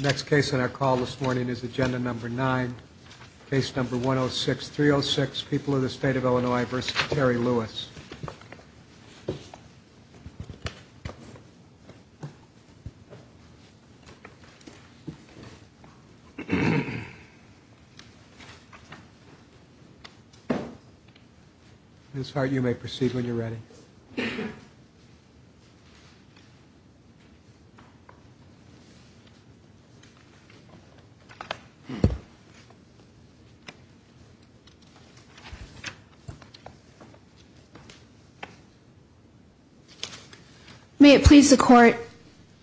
Next case on our call this morning is agenda number nine, case number 106-306, People of the State of Illinois v. Terry Lewis. Ms. Hart, you may proceed when you're ready. Ms. Hart, you may proceed when you're ready. May it please the court,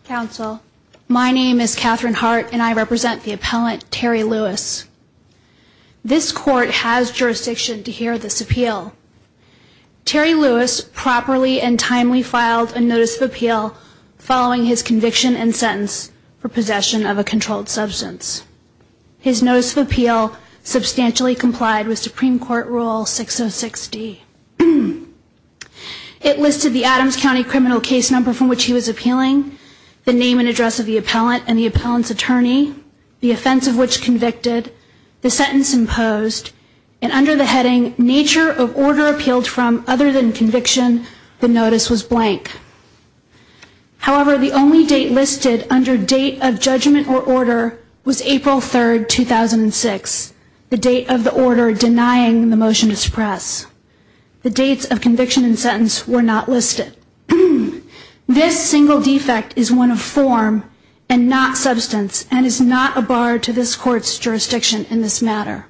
counsel, my name is Katherine Hart and I represent the appellant Terry Lewis. This court has jurisdiction to hear this appeal. Terry Lewis properly and timely filed a notice of appeal following his conviction and sentence for possession of a controlled substance. His notice of appeal substantially complied with Supreme Court Rule 606-D. It listed the Adams County criminal case number from which he was appealing, the name and address of the appellant and the appellant's attorney, the offense of which convicted, the sentence imposed, and under the heading, nature of order appealed from other than conviction, the notice was blank. However, the only date listed under date of judgment or order was April 3, 2006, the date of the order denying the motion to suppress. The dates of conviction and sentence were not listed. This single defect is one of form and not substance and is not a bar to this court's jurisdiction in this matter.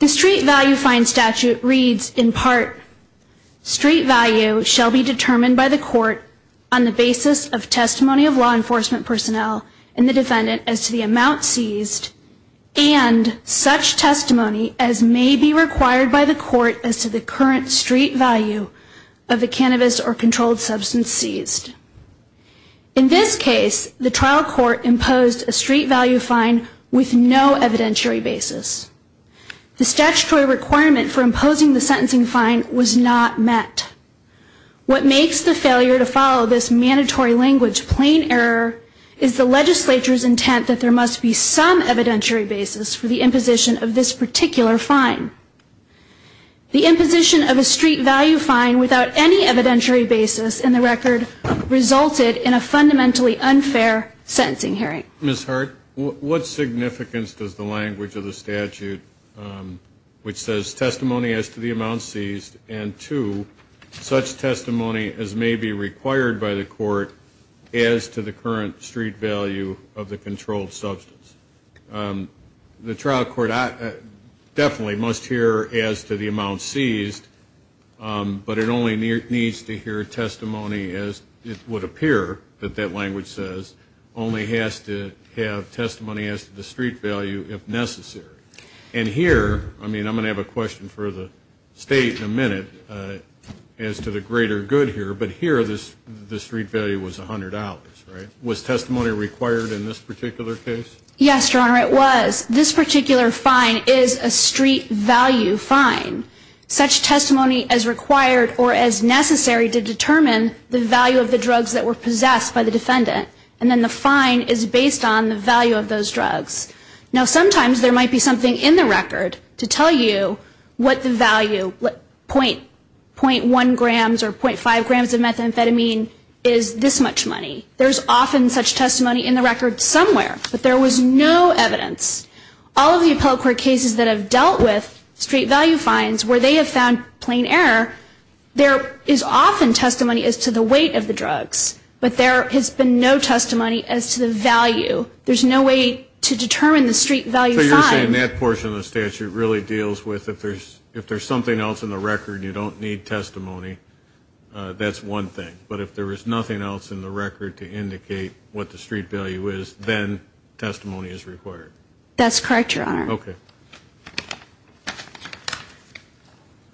The street value fine statute reads in part, street value shall be determined by the court on the basis of testimony of law enforcement personnel and the defendant as to the amount seized, and such testimony as may be required by the court as to the current street value of the cannabis or controlled substance seized. In this case, the trial court imposed a street value fine with no evidentiary basis. The statutory requirement for imposing the sentencing fine was not met. What makes the failure to follow this mandatory language plain error is the legislature's intent that there must be some evidentiary basis for the imposition of this particular fine. The imposition of a street value fine without any evidentiary basis in the record resulted in a fundamentally unfair sentencing hearing. Ms. Hart, what significance does the language of the statute, which says testimony as to the amount seized, and two, does it make sense to the court to impose a street value fine without any evidentiary basis? It does not make sense to the court to impose such testimony as may be required by the court as to the current street value of the controlled substance. The trial court definitely must hear as to the amount seized, but it only needs to hear testimony as it would appear that that language says, only has to have testimony as to the street value if necessary. And here, I mean, I'm going to have a question for the State in a minute as to the greater good here, but here the street value was $100, right? Was testimony required in this particular case? Yes, Your Honor, it was. This particular fine is a street value fine, such testimony as required or as necessary to determine the value of the drugs that were possessed by the defendant. And then the fine is based on the value of those drugs. Now, sometimes there might be something in the record to tell you what the value, 0.1 grams or 0.5 grams of methamphetamine is this much money. There's often such testimony in the record somewhere, but there was no evidence. All of the appellate court cases that have dealt with street value fines where they have found plain error, there is often testimony as to the weight of the drugs. But there has been no testimony as to the value. There's no way to determine the street value fine. So you're saying that portion of the statute really deals with if there's something else in the record, you don't need testimony, that's one thing. But if there is nothing else in the record to indicate what the street value is, then testimony is required. That's correct, Your Honor.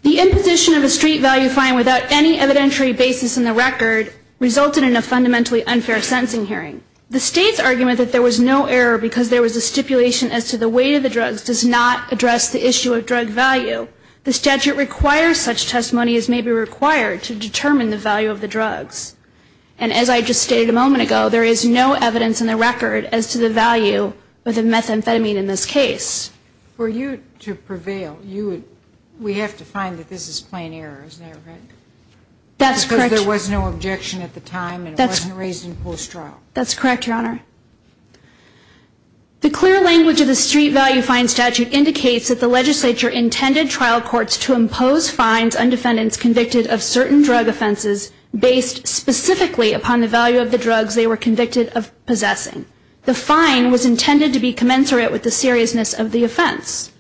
The imposition of a street value fine without any evidentiary basis in the record resulted in a fundamentally unfair sentencing hearing. The state's argument that there was no error because there was a stipulation as to the weight of the drugs does not address the issue of drug value. The statute requires such testimony as may be required to determine the value of the drugs. And as I just stated a moment ago, there is no evidence in the record as to the value of the methamphetamine in this case. For you to prevail, we have to find that this is plain error, isn't that right? That's correct. Because there was no objection at the time and it wasn't raised in post-trial. That's correct, Your Honor. The clear language of the street value fine statute indicates that the legislature intended trial courts to impose fines on defendants convicted of certain drug offenses based specifically upon the value of the drugs they were convicted of possessing. The fine was intended to be commensurate with the seriousness of the offense.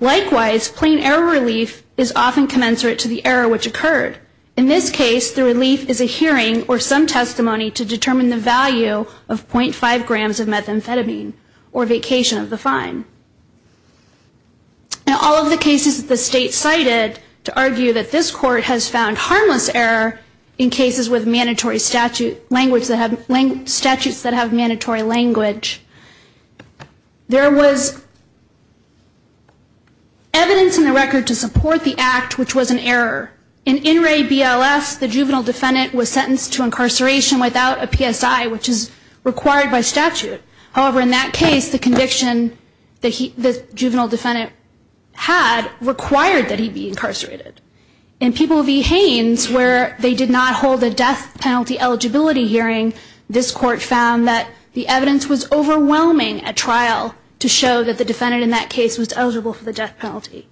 Likewise, plain error relief is often commensurate to the error which occurred. In this case, the relief is a hearing or some testimony to determine the value of 0.5 grams of methamphetamine or vacation of the fine. In all of the cases that the state cited to argue that this court has found harmless error in cases with mandatory statute, statutes that have mandatory language, there was evidence in the record to support the act, which was an error. In In Re BLS, the juvenile defendant was sentenced to incarceration without a PSI, which is required by statute. However, in that case, the conviction the juvenile defendant had required that he be incarcerated. In People v. Haynes, where they did not hold a death penalty eligibility hearing, this court found that the evidence in the record did not support the act. The evidence was overwhelming at trial to show that the defendant in that case was eligible for the death penalty.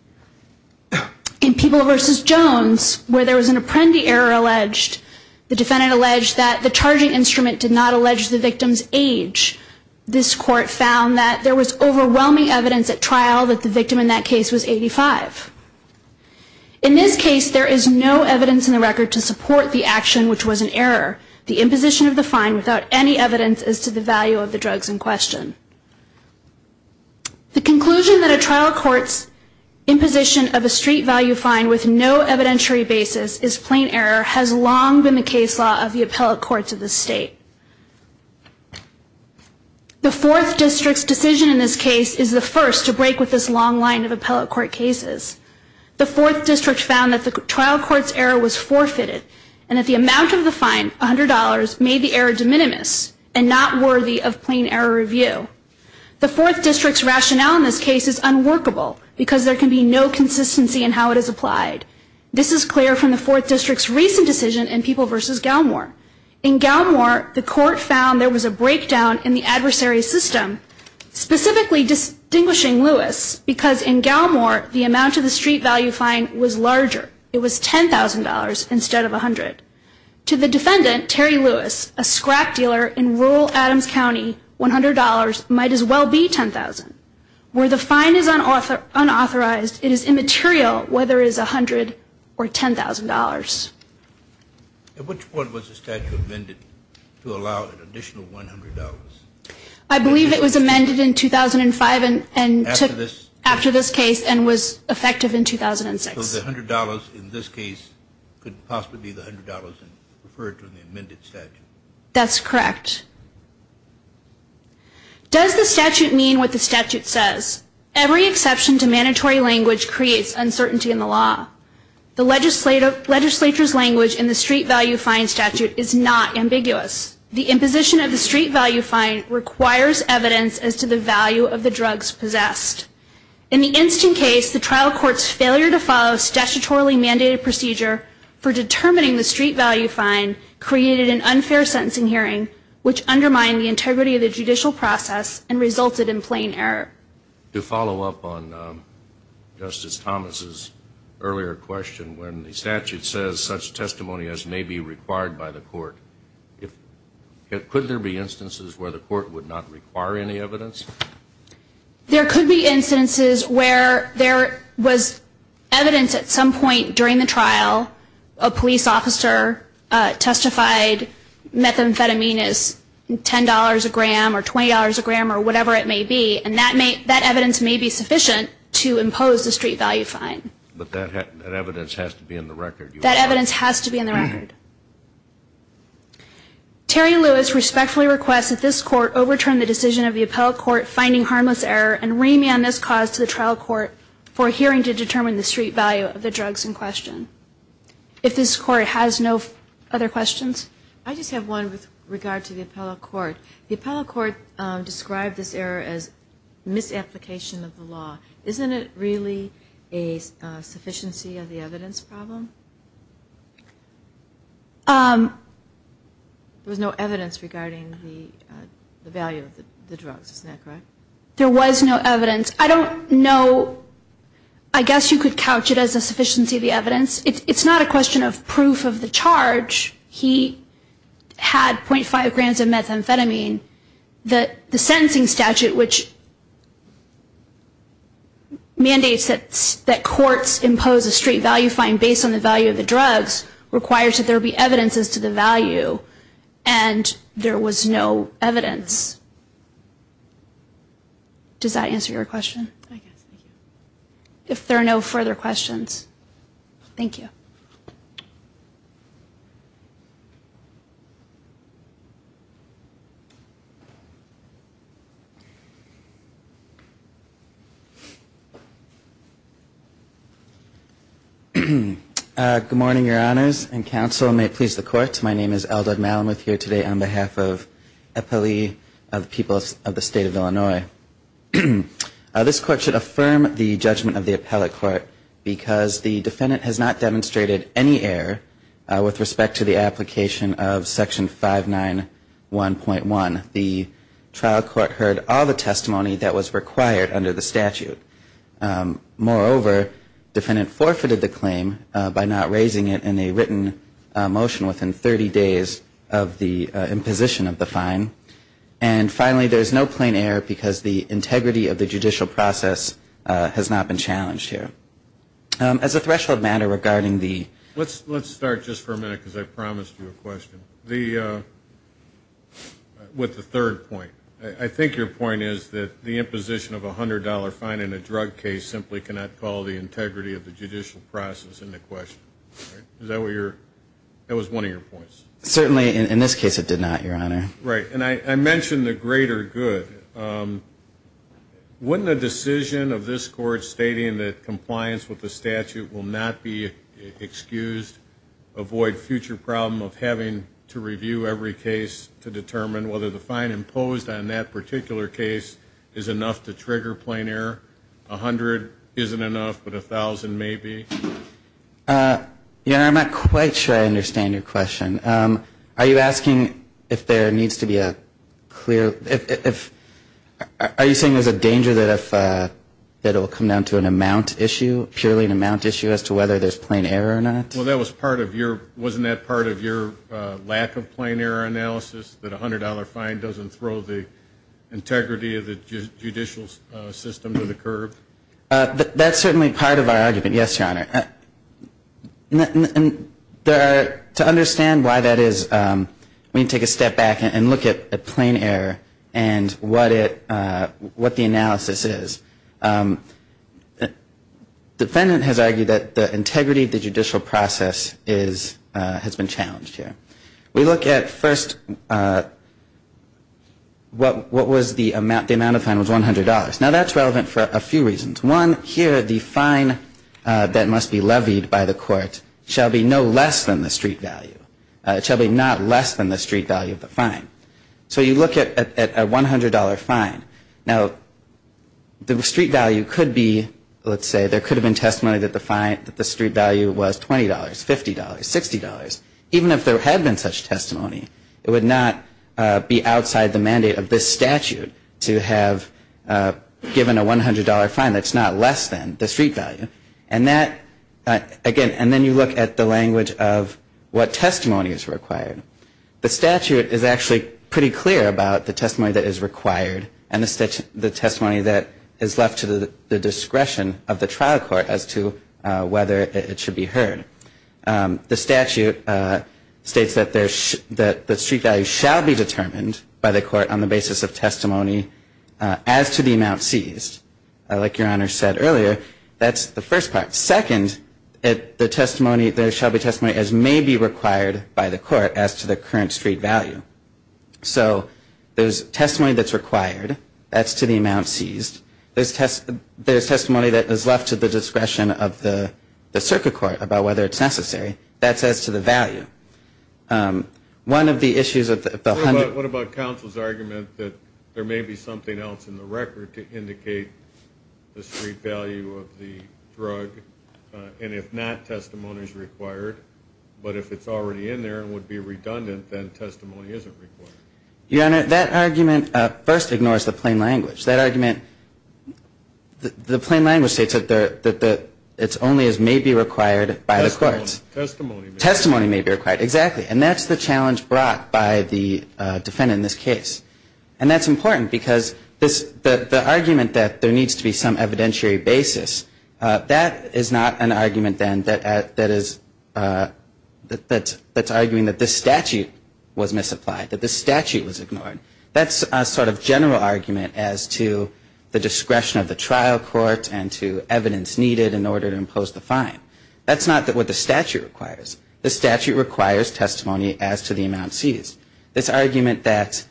In People v. Jones, where there was an apprendee error alleged, the defendant alleged that the charging instrument did not allege the victim's age. This court found that there was overwhelming evidence at trial that the victim in that case was 85. In this case, there is no evidence in the record to support the action, which was an error. The imposition of the fine without any evidence is to the value of the drugs in question. The conclusion that a trial court's imposition of a street value fine with no evidentiary basis is plain error has long been the case law of the appellate courts of this state. The Fourth District's decision in this case is the first to break with this long line of appellate court cases. The Fourth District found that the trial court's error was forfeited and that the amount of the fine, $100, made the error de minimis and not worthy of plain error review. The Fourth District's rationale in this case is unworkable because there can be no consistency in how it is applied. This is clear from the Fourth District's recent decision in People v. Galmore. In Galmore, the court found there was a breakdown in the adversary system, specifically distinguishing Lewis, because in Galmore, the amount of the street value fine was larger. It was $10,000 instead of $100,000. To the defendant, Terry Lewis, a scrap dealer in rural Adams County, $100 might as well be $10,000. Where the fine is unauthorized, it is immaterial whether it is $100,000 or $10,000. At which point was the statute amended to allow an additional $100? I believe it was amended in 2005 and took after this case and was effective in 2006. So the $100 in this case could possibly be the $100 referred to in the amended statute? That's correct. Does the statute mean what the statute says? Every exception to mandatory language creates uncertainty in the law. The legislature's language in the street value fine statute is not ambiguous. The imposition of the street value fine requires evidence as to the value of the drugs possessed. In the instant case, the trial court's failure to follow a statutorily mandated procedure for determining the street value fine created an unfair sentencing hearing, which undermined the integrity of the judicial process and resulted in plain error. To follow up on Justice Thomas's earlier question, when the statute says such testimony as may be required by the court, could there be instances where the court would not require any evidence? There could be instances where there was evidence at some point during the trial, a police officer testified methamphetamine is $10 a gram or $20 a gram or whatever it may be, and that evidence may be sufficient to impose the street value fine. But that evidence has to be in the record. Terry Lewis respectfully requests that this court overturn the decision of the appellate court finding harmless error and remand this cause to the trial court for hearing to determine the street value of the drugs in question. If this court has no other questions. I just have one with regard to the appellate court. The appellate court described this error as misapplication of the law. Isn't it really a sufficiency of the evidence problem? There was no evidence regarding the value of the drugs, is that correct? There was no evidence. I don't know, I guess you could couch it as a sufficiency of the evidence. It's not a question of proof of the charge. He had .5 grams of methamphetamine. The sentencing statute which mandates that courts impose a street value fine based on the value of the drugs requires that there be evidence as to the value, and there was no evidence. Does that answer your question? If there are no further questions, thank you. Good morning, your honors and counsel. May it please the court, my name is Eldad Malamuth here today on behalf of the people of the state of Illinois. This court should affirm the judgment of the appellate court because the defendant has not demonstrated any error with respect to the application of section 591.1. The trial court heard all the testimony that was required under the statute. Moreover, defendant forfeited the claim by not raising it in a written motion within 30 days of the imposition of the fine. And finally, there is no plain error because the integrity of the judicial process has not been challenged here. As a threshold matter regarding the Let's start just for a minute because I promised you a question. With the third point, I think your point is that the imposition of a $100 fine in a drug case simply cannot call the integrity of the judicial process into question. That was one of your points. Certainly in this case it did not, your honor. Right, and I mentioned the greater good. Wouldn't a decision of this court stating that compliance with the statute will not be excused avoid future problem of having to review every case to determine whether the fine imposed on that particular case is enough to trigger plain error? A hundred isn't enough, but a thousand maybe? Your honor, I'm not quite sure I understand your question. Are you asking if there needs to be a clear, are you saying there's a danger that it will come down to an amount issue, purely an amount issue as to whether there's plain error or not? Well, that was part of your, wasn't that part of your lack of plain error analysis, that a $100 fine doesn't throw the integrity of the judicial system to the curb? That's certainly part of our argument, yes, your honor. To understand why that is, we need to take a step back and look at plain error and what the analysis is. The defendant has argued that the integrity of the judicial process has been challenged here. We look at first what was the amount, the amount of fine was $100. Now that's relevant for a few reasons. One, here the fine that must be levied by the court shall be no less than the street value, shall be not less than the street value of the fine. So you look at a $100 fine. Now, the street value could be, let's say there could have been testimony that the fine, that the street value was $20, $50, $60. Even if there had been such testimony, it would not be outside the mandate of this statute to have given a $100 fine that's not less than the street value. And that, again, and then you look at the language of what testimony is required. The statute is actually pretty clear about the testimony that is required and the testimony that is left to the discretion of the trial court as to whether it should be heard. The statute states that the street value shall be determined by the court on the basis of testimony as to the amount seized. Like Your Honor said earlier, that's the first part. Second, the testimony, there shall be testimony as may be required by the court as to the current street value. So there's testimony that's required, that's to the amount seized. There's testimony that is left to the discretion of the circuit court about whether it's necessary. That's as to the value. What about counsel's argument that there may be something else in the record to indicate the street value of the drug, and if not, testimony is required, but if it's already in there and would be redundant, then testimony isn't required? Your Honor, that argument first ignores the plain language. That argument, the plain language states that it's only as may be required by the courts. Testimony may be required. Exactly, and that's the challenge brought by the defendant in this case. And that's important because the argument that there needs to be some evidentiary basis, that is not an argument then that is, that's arguing that this statute was misapplied. That's a sort of general argument as to the discretion of the trial court and to evidence needed in order to impose the fine. That's not what the statute requires. The statute requires testimony as to the amount seized. This argument that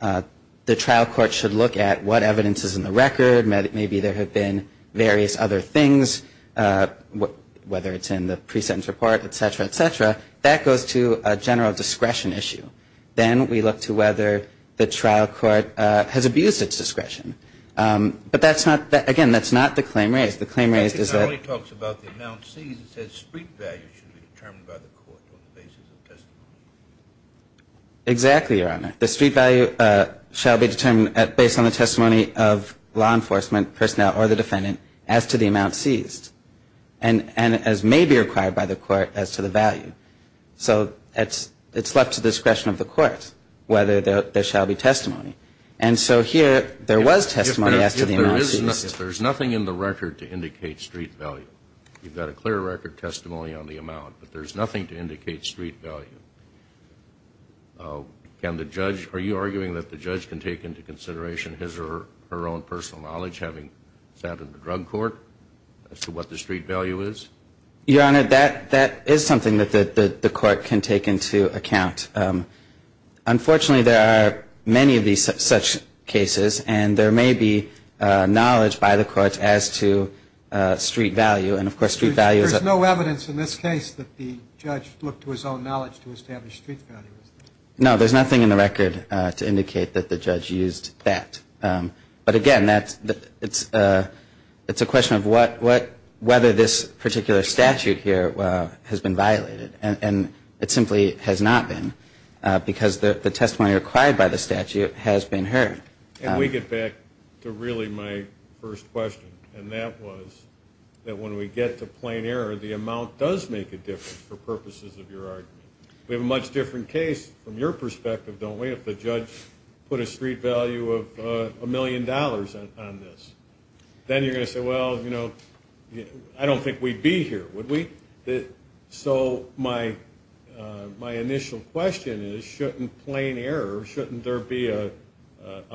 the trial court should look at what evidence is in the record, maybe there have been various other things, whether it's in the pre-sentence report, et cetera, et cetera, that goes to a general discretion issue. Then we look to whether the trial court has abused its discretion. But that's not, again, that's not the claim raised. Exactly, Your Honor. The street value shall be determined based on the testimony of law enforcement personnel or the defendant as to the amount seized. And as may be required by the court as to the value. And that's not the question of the court, whether there shall be testimony. And so here there was testimony as to the amount seized. If there's nothing in the record to indicate street value, you've got a clear record testimony on the amount, but there's nothing to indicate street value, can the judge, are you arguing that the judge can take into consideration his or her own personal knowledge having sat in the drug court as to what the street value is? Your Honor, that is something that the court can take into account. Unfortunately, there are many of these such cases, and there may be knowledge by the court as to street value. And of course, street value is a... No, there's nothing in the record to indicate that the judge used that. But again, it's a question of whether this particular statute here has been violated. And it simply has not been, because the testimony required by the statute has been heard. Can we get back to really my first question? And that was that when we get to plain error, the amount does make a difference for purposes of your argument. We have a much different case from your perspective, don't we, if the judge put a street value of a million dollars on this. Then you're going to say, well, you know, I don't think we'd be here, would we? So my initial question is, shouldn't plain error, shouldn't there be a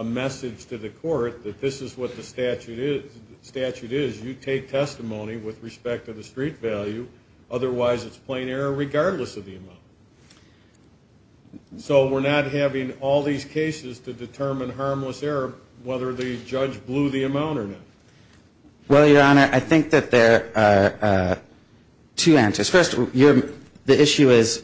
message to the court that this is what the statute is? You take testimony with respect to the street value, otherwise it's plain error regardless of the amount. So we're not having all these cases to determine harmless error, whether the judge blew the amount or not. Well, Your Honor, I think that there are two answers. First, the issue is,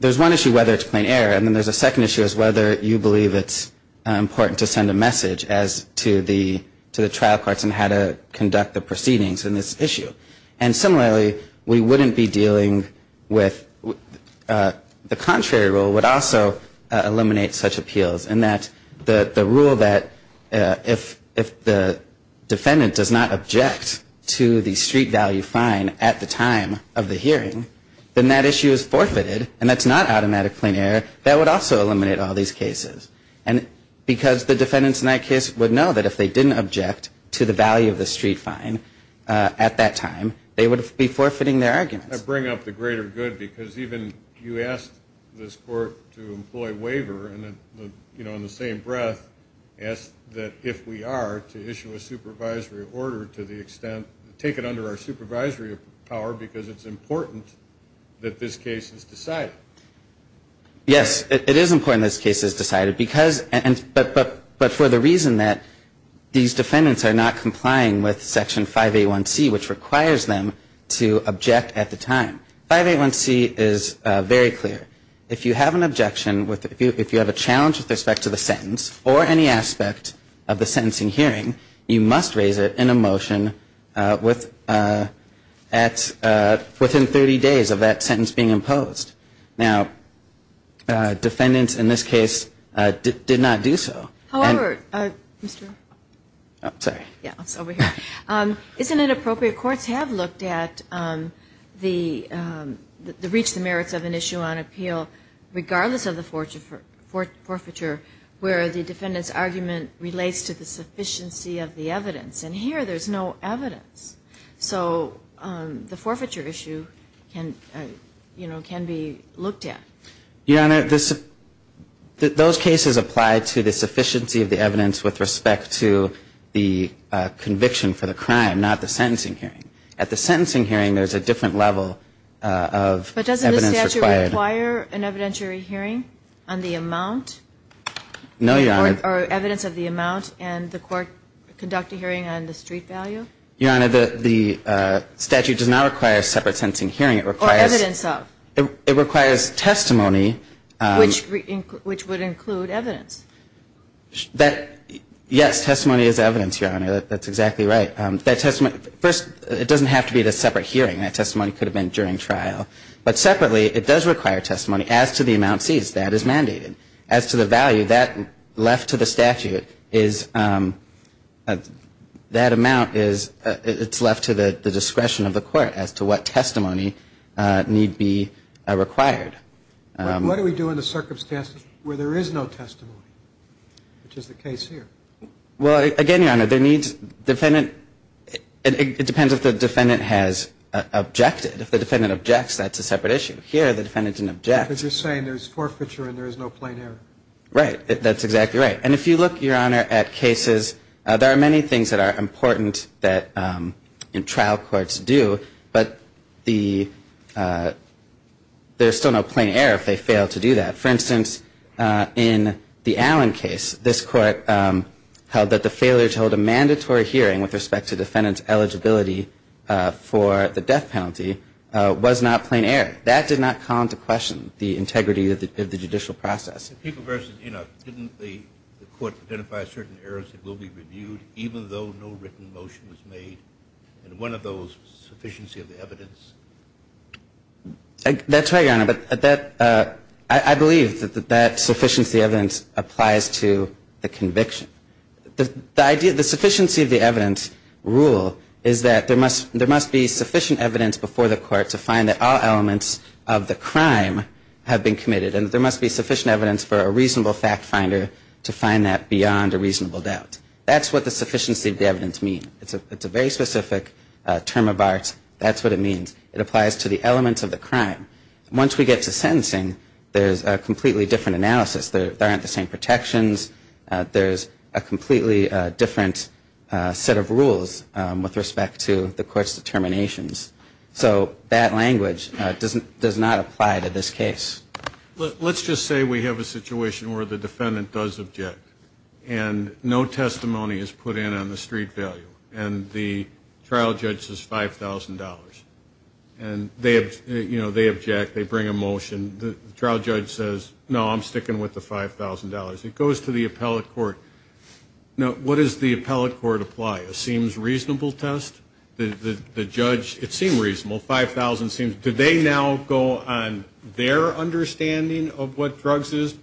there's one issue, whether it's plain error. And then there's a second issue is whether you believe it's important to send a message as to the trial courts on how to conduct the proceedings in this issue. And similarly, we wouldn't be dealing with the contrary rule would also eliminate such appeals. And that the rule that if the defendant does not object to the street value fine at the time of the hearing, then that issue is forfeited. And that's not automatic plain error. That would also eliminate all these cases. And because the defendants in that case would know that if they didn't object to the value of the street fine at that time, they would be forfeiting their arguments. I bring up the greater good, because even you asked this court to employ waiver, and then, you know, in the same breath, asked that if we are to issue a supervisory order to the extent, take it under our supervisory power, because it's important that this case is decided. Yes, it is important this case is decided. But for the reason that these defendants are not complying with Section 581C, which requires them to object at the time. 581C is very clear. If you have an objection, if you have a challenge with respect to the sentence, or any aspect of the sentencing hearing, you must raise it in a motion within 30 days of that sentence being imposed. Now, defendants in this case did not do so. However, isn't it appropriate? Courts have looked at the reach, the merits of an issue on appeal, regardless of the forfeiture, where the defendant's argument relates to the sufficiency of the evidence. And here, there's no evidence. So the forfeiture issue can, you know, can be, you know, can be, you know, an issue. You know, those cases apply to the sufficiency of the evidence with respect to the conviction for the crime, not the sentencing hearing. At the sentencing hearing, there's a different level of evidence required. But doesn't the statute require an evidentiary hearing on the amount? No, Your Honor. Or evidence of the amount, and the court conduct a hearing on the street value? Your Honor, the statute does not require a separate sentencing hearing. Or evidence of? It requires testimony. Which would include evidence. Yes, testimony is evidence, Your Honor. That's exactly right. First, it doesn't have to be a separate hearing. That testimony could have been during trial. But separately, it does require testimony as to the amount seized. That is mandated. As to the value, that, left to the statute, is, that amount is, it's left to the discretion of the court as to what testimony need be required. What do we do in the circumstances where there is no testimony, which is the case here? Well, again, Your Honor, there needs, defendant, it depends if the defendant has objected. If the defendant objects, that's a separate issue. Here, the defendant didn't object. Because you're saying there's forfeiture and there's no plain error. Right. That's exactly right. And if you look, Your Honor, at cases, there are many things that are important that trial courts do, but the, there's still no plain error if they fail to do that. For instance, in the Allen case, this court held that the failure to hold a mandatory hearing with respect to defendant's eligibility for the death penalty, was not plain error. That did not come to question the integrity of the judicial process. Didn't the court identify certain errors that will be reviewed even though no written motion was made? And one of those was sufficiency of the evidence? That's right, Your Honor. But that, I believe that that sufficiency of evidence applies to the conviction. The idea, the sufficiency of the evidence rule is that there must be sufficient evidence before the court to find that all elements of the crime have been committed. And there must be sufficient evidence for a reasonable fact finder to find that beyond a reasonable doubt. That's what the sufficiency of the evidence means. It's a very specific term of art. That's what it means. It applies to the elements of the crime. Once we get to sentencing, there's a completely different analysis. There aren't the same protections. There's a completely different set of rules with respect to the court's determinations. So that language does not apply to this case. Let's just say we have a situation where the defendant does object. And no testimony is put in on the street value. And the trial judge says $5,000. And they object. They bring a motion. And the trial judge says, no, I'm sticking with the $5,000. It goes to the appellate court. Now, what does the appellate court apply? A seems reasonable test? The judge, it seemed reasonable. $5,000 seems, do they now go on their understanding of what drugs is,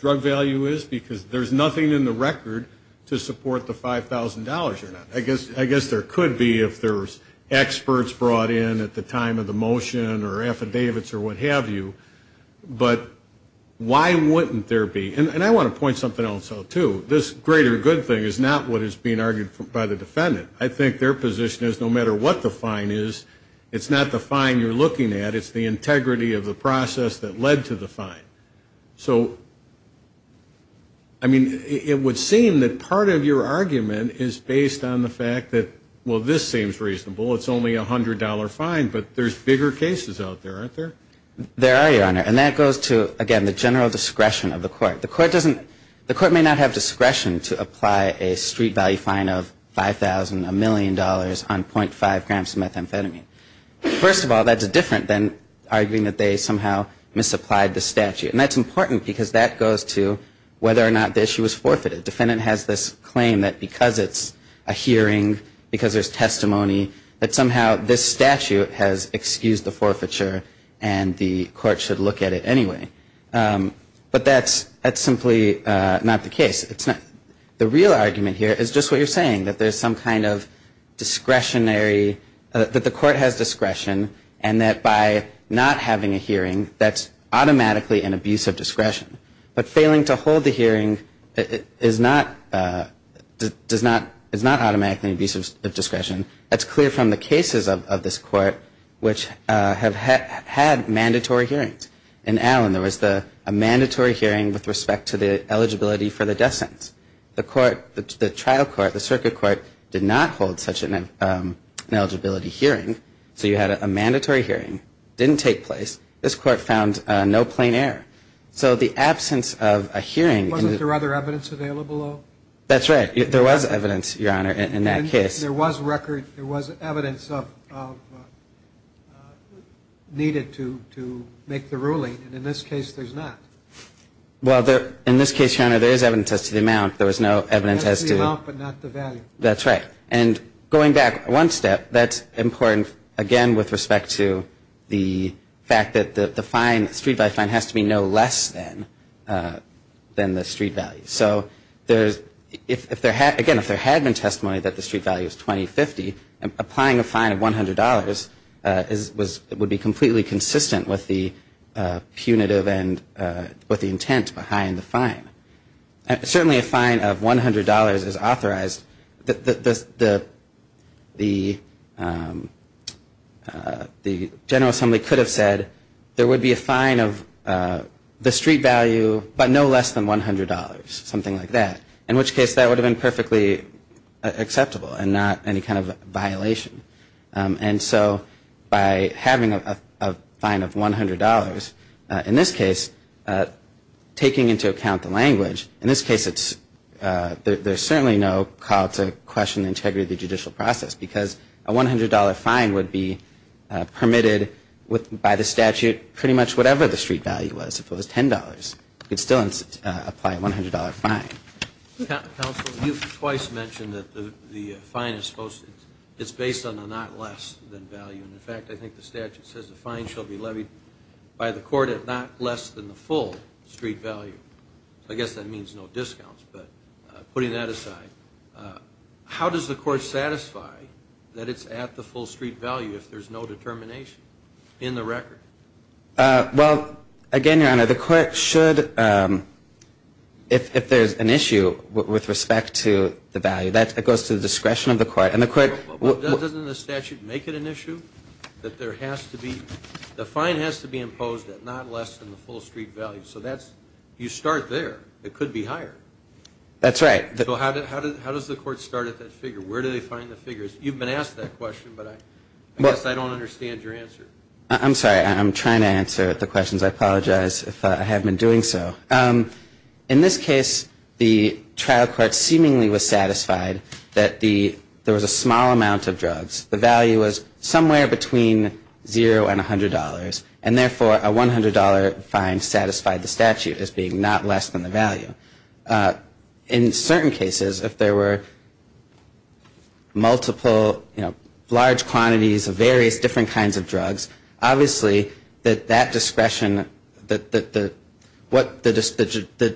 drug value is? Because there's nothing in the record to support the $5,000 or not. I guess there could be if there's experts brought in at the time of the motion or affidavits or what have you. But why wouldn't there be? And I want to point something else out, too. This greater good thing is not what is being argued by the defendant. I think their position is no matter what the fine is, it's not the fine you're looking at. It's the integrity of the process that led to the fine. So, I mean, it would seem that part of your argument is based on the fact that, well, this seems reasonable. It's only a $100 fine. But there's bigger cases out there, aren't there? There are, Your Honor. And that goes to, again, the general discretion of the court. The court may not have discretion to apply a street value fine of $5,000, a million dollars on .5 grams of methamphetamine. First of all, that's different than arguing that they somehow misapplied the statute. And that's important because that goes to whether or not the issue was forfeited. The defendant has this claim that because it's a hearing, because there's testimony, that somehow this statute has excused the forfeiture and the court should look at it anyway. But that's simply not the case. The real argument here is just what you're saying, that there's some kind of discretionary, that the court has discretion and that by not having a hearing, that's automatically an abuse of discretion. But failing to hold the hearing is not automatically an abuse of discretion. That's clear from the cases of this court which have had mandatory hearings. In Allen, there was a mandatory hearing with respect to the eligibility for the death sentence. The trial court, the circuit court, did not hold such an eligibility hearing. So you had a mandatory hearing. It didn't take place. This court found no plain error. So the absence of a hearing... Well, there's evidence to the amount. There was no evidence as to... That's the amount, but not the value. That's right. And going back one step, that's important again with respect to the fact that the fine, the street value fine, has to be no less than the street value. So if there had been testimony that the street value is $20.50, applying a fine of $100 would be completely consistent with the statute. Punitive and with the intent behind the fine. Certainly a fine of $100 is authorized. The General Assembly could have said there would be a fine of the street value, but no less than $100, something like that. In which case, that would have been perfectly acceptable and not any kind of violation. And so by having a fine of $100, in this case, taking into account the language, in this case, there's certainly no call to question the integrity of the judicial process. Because a $100 fine would be permitted by the statute pretty much whatever the street value was. If it was $10, you could still apply a $100 fine. Counsel, you've twice mentioned that the fine is based on the not less than value. In fact, I think the statute says the fine shall be levied by the court at not less than the full street value. I guess that means no discounts, but putting that aside, how does the court satisfy that it's at the full street value if there's no determination in the record? Well, again, Your Honor, the court should, if there's an issue with respect to the value, that goes to the discretion of the court. Doesn't the statute make it an issue that there has to be, the fine has to be imposed at not less than the full street value? So you start there. It could be higher. That's right. So how does the court start at that figure? Where do they find the figures? You've been asked that question, but I guess I don't understand your answer. I'm sorry. I'm trying to answer the questions. I apologize if I have been doing so. In this case, the trial court seemingly was satisfied that there was a small amount of drugs. The value was somewhere between zero and $100, and therefore, a $100 fine satisfied the statute as being not less than the value. In certain cases, if there were multiple, you know, large quantities of various different kinds of drugs, obviously, that that discretion, the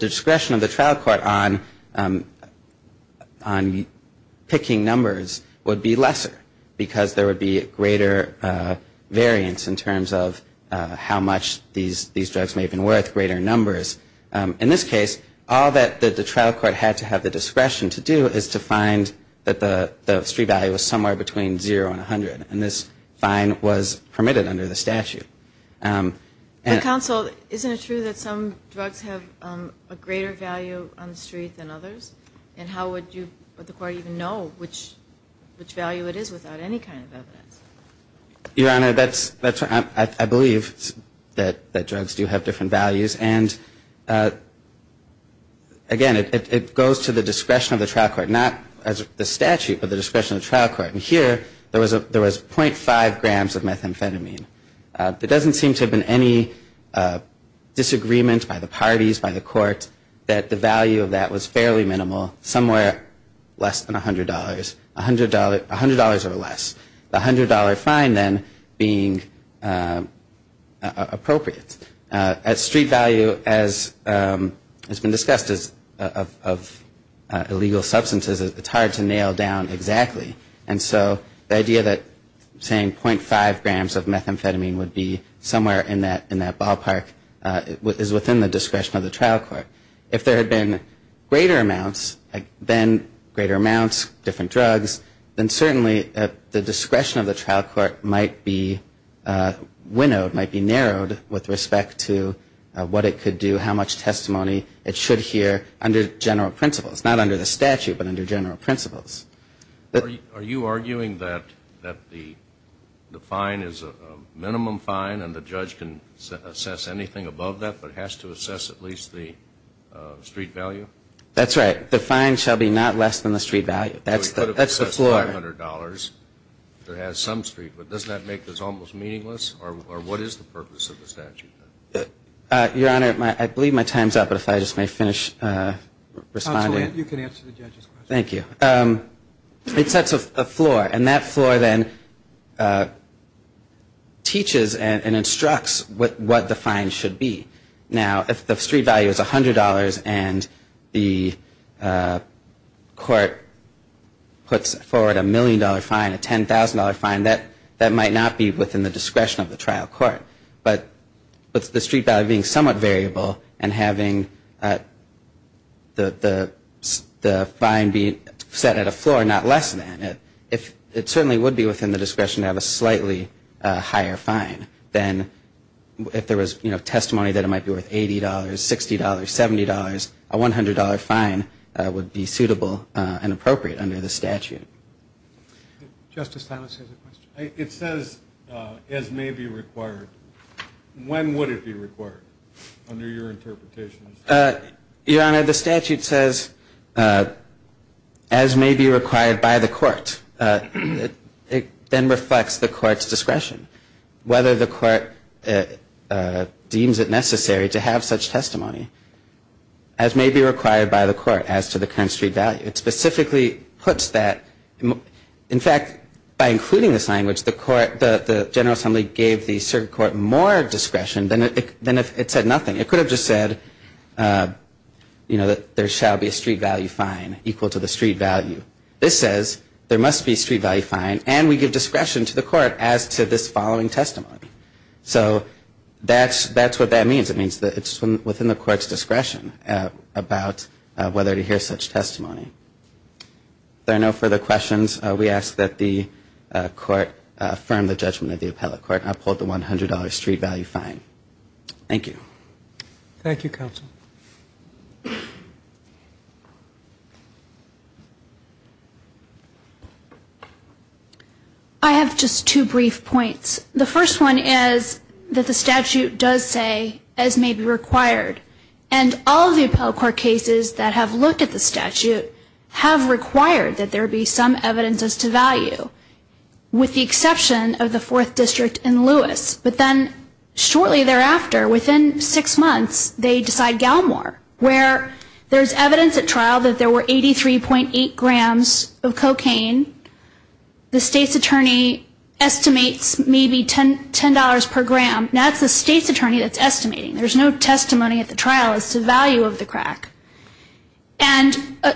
discretion of the trial court on picking numbers would be lesser, because there would be greater variance in terms of how much these drugs may have been worth, greater numbers. In this case, all that the trial court had to have the discretion to do is to find that the street value was somewhere between zero and $100, and this fine was permitted under the statute. Counsel, isn't it true that some drugs have a greater value on the street than others? And how would you, would the court even know which value it is without any kind of evidence? Your Honor, that's, I believe that drugs do have different values, and again, it goes to the discretion of the trial court, not the statute, but the discretion of the trial court. And here, there was .5 grams of methamphetamine. There doesn't seem to have been any disagreement by the parties, by the court, that the value of that was fairly minimal, somewhere less than $100, $100 or less. The $100 fine, then, being appropriate. At street value, as has been discussed, of illegal substances, it's hard to nail down exactly, and so the idea that saying .5 grams of methamphetamine would be somewhere in that ballpark is within the discretion of the trial court. If there had been greater amounts, then greater amounts, different drugs, then certainly the discretion of the trial court might be winnowed, might be narrowed with respect to what it could do, how much testimony it should hear under general principles. Not under the statute, but under general principles. Are you arguing that the fine is a minimum fine, and the judge can assess anything above that, but has to assess at least the minimum amount? That's right. The fine shall be not less than the street value. That's the floor. So it could have assessed $500 if it has some street, but doesn't that make this almost meaningless? Or what is the purpose of the statute? Your Honor, I believe my time's up, but if I just may finish responding. Counsel, you can answer the judge's question. Thank you. It sets a floor, and that floor then teaches and instructs what the fine should be. Now, if the street value is $100 and the court puts forward a million-dollar fine, a $10,000 fine, that might not be within the discretion of the trial court. But the street value being somewhat variable and having the fine be set at a floor, not less than it, it certainly would be within the discretion to have a slightly higher fine than if there was testimony that it might be less than $100. It might be worth $80, $60, $70. A $100 fine would be suitable and appropriate under the statute. Justice Thomas has a question. It says, as may be required. When would it be required, under your interpretation? Your Honor, the statute says, as may be required by the court. It then reflects the court's discretion. Whether the court deems it necessary to have such testimony, as may be required by the court, as to the current street value. It specifically puts that. In fact, by including this language, the court, the General Assembly, gave the circuit court more discretion than if it said nothing. It could have just said, you know, that there shall be a street value fine equal to the street value. This says there must be a street value fine, and we give discretion to the court as to this following testimony. So that's what that means. It means that it's within the court's discretion about whether to hear such testimony. If there are no further questions, we ask that the court affirm the judgment of the appellate court and uphold the $100 street value fine. Thank you. I have just two brief points. The first one is that the statute does say, as may be required. And all of the appellate court cases that have looked at the statute have required that there be some evidence as to value. With the exception of the 4th District and Lewis. But then shortly thereafter, within six months, they decide Galmore. Where there's evidence at trial that there were 83.8 grams of cocaine. The state's attorney estimates maybe $10 per gram. That's the state's attorney that's estimating. There's no testimony at the trial as to value of the crack. And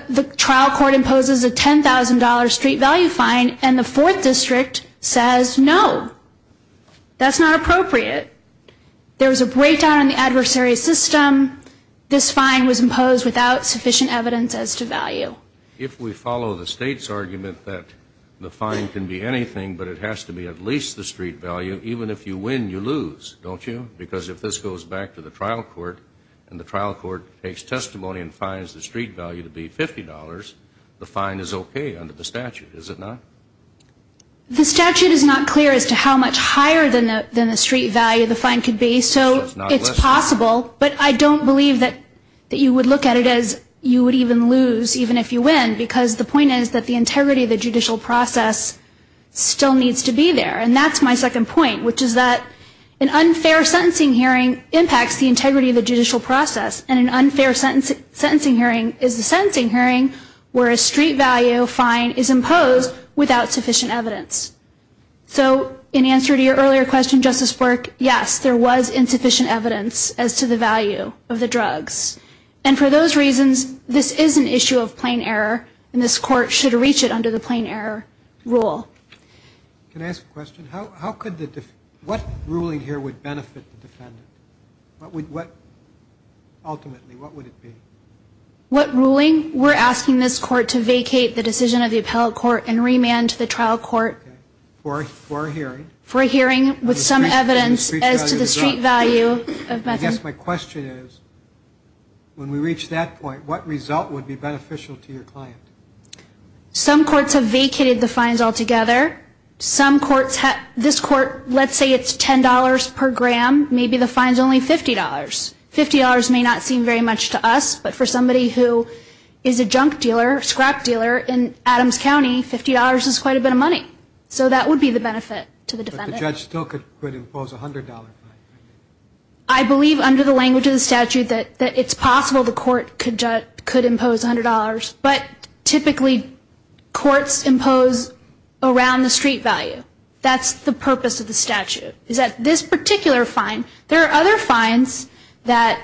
the trial court imposes a $10,000 street value fine, and the 4th District says no. That's not appropriate. There was a breakdown in the adversary system. This fine was imposed without sufficient evidence as to value. If we follow the state's argument that the fine can be anything, but it has to be at least the street value, even if you win, you lose. Don't you? Because if this goes back to the trial court, and the trial court takes testimony and finds the street value to be $50, the fine is okay under the statute, is it not? The statute is not clear as to how much higher than the street value the fine could be, so it's possible. But I don't believe that you would look at it as you would even lose, even if you win. Because the point is that the integrity of the judicial process still needs to be there. And that's my second point, which is that an unfair sentencing hearing impacts the integrity of the judicial process, and an unfair sentencing hearing is a sentencing hearing where a street value fine is imposed without sufficient evidence. So in answer to your earlier question, Justice Bork, yes, there was insufficient evidence as to the value of the drugs. And for those reasons, this is an issue of plain error, and this court should reach it under the plain error rule. Can I ask a question? What ruling here would benefit the defendant? Ultimately, what would it be? What ruling? We're asking this court to vacate the decision of the appellate court and remand to the trial court. For a hearing. For a hearing with some evidence as to the street value of methadone. I guess my question is, when we reach that point, what result would be beneficial to your client? Some courts have vacated the fines altogether. This court, let's say it's $10 per gram, maybe the fine's only $50. $50 may not seem very much to us, but for somebody who is a junk dealer, scrap dealer in Adams County, $50 is quite a bit of money. The judge still could impose a $100 fine. I believe under the language of the statute that it's possible the court could impose $100, but typically courts impose around the street value. That's the purpose of the statute, is that this particular fine. There are other fines that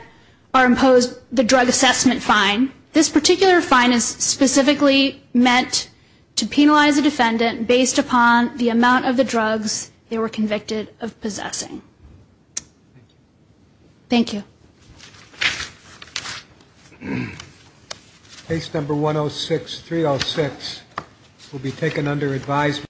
are imposed, the drug assessment fine. This particular fine is specifically meant to penalize a defendant based upon the amount of the drugs they were convicted of possessing. Thank you. Case number 106-306 will be taken under advisement.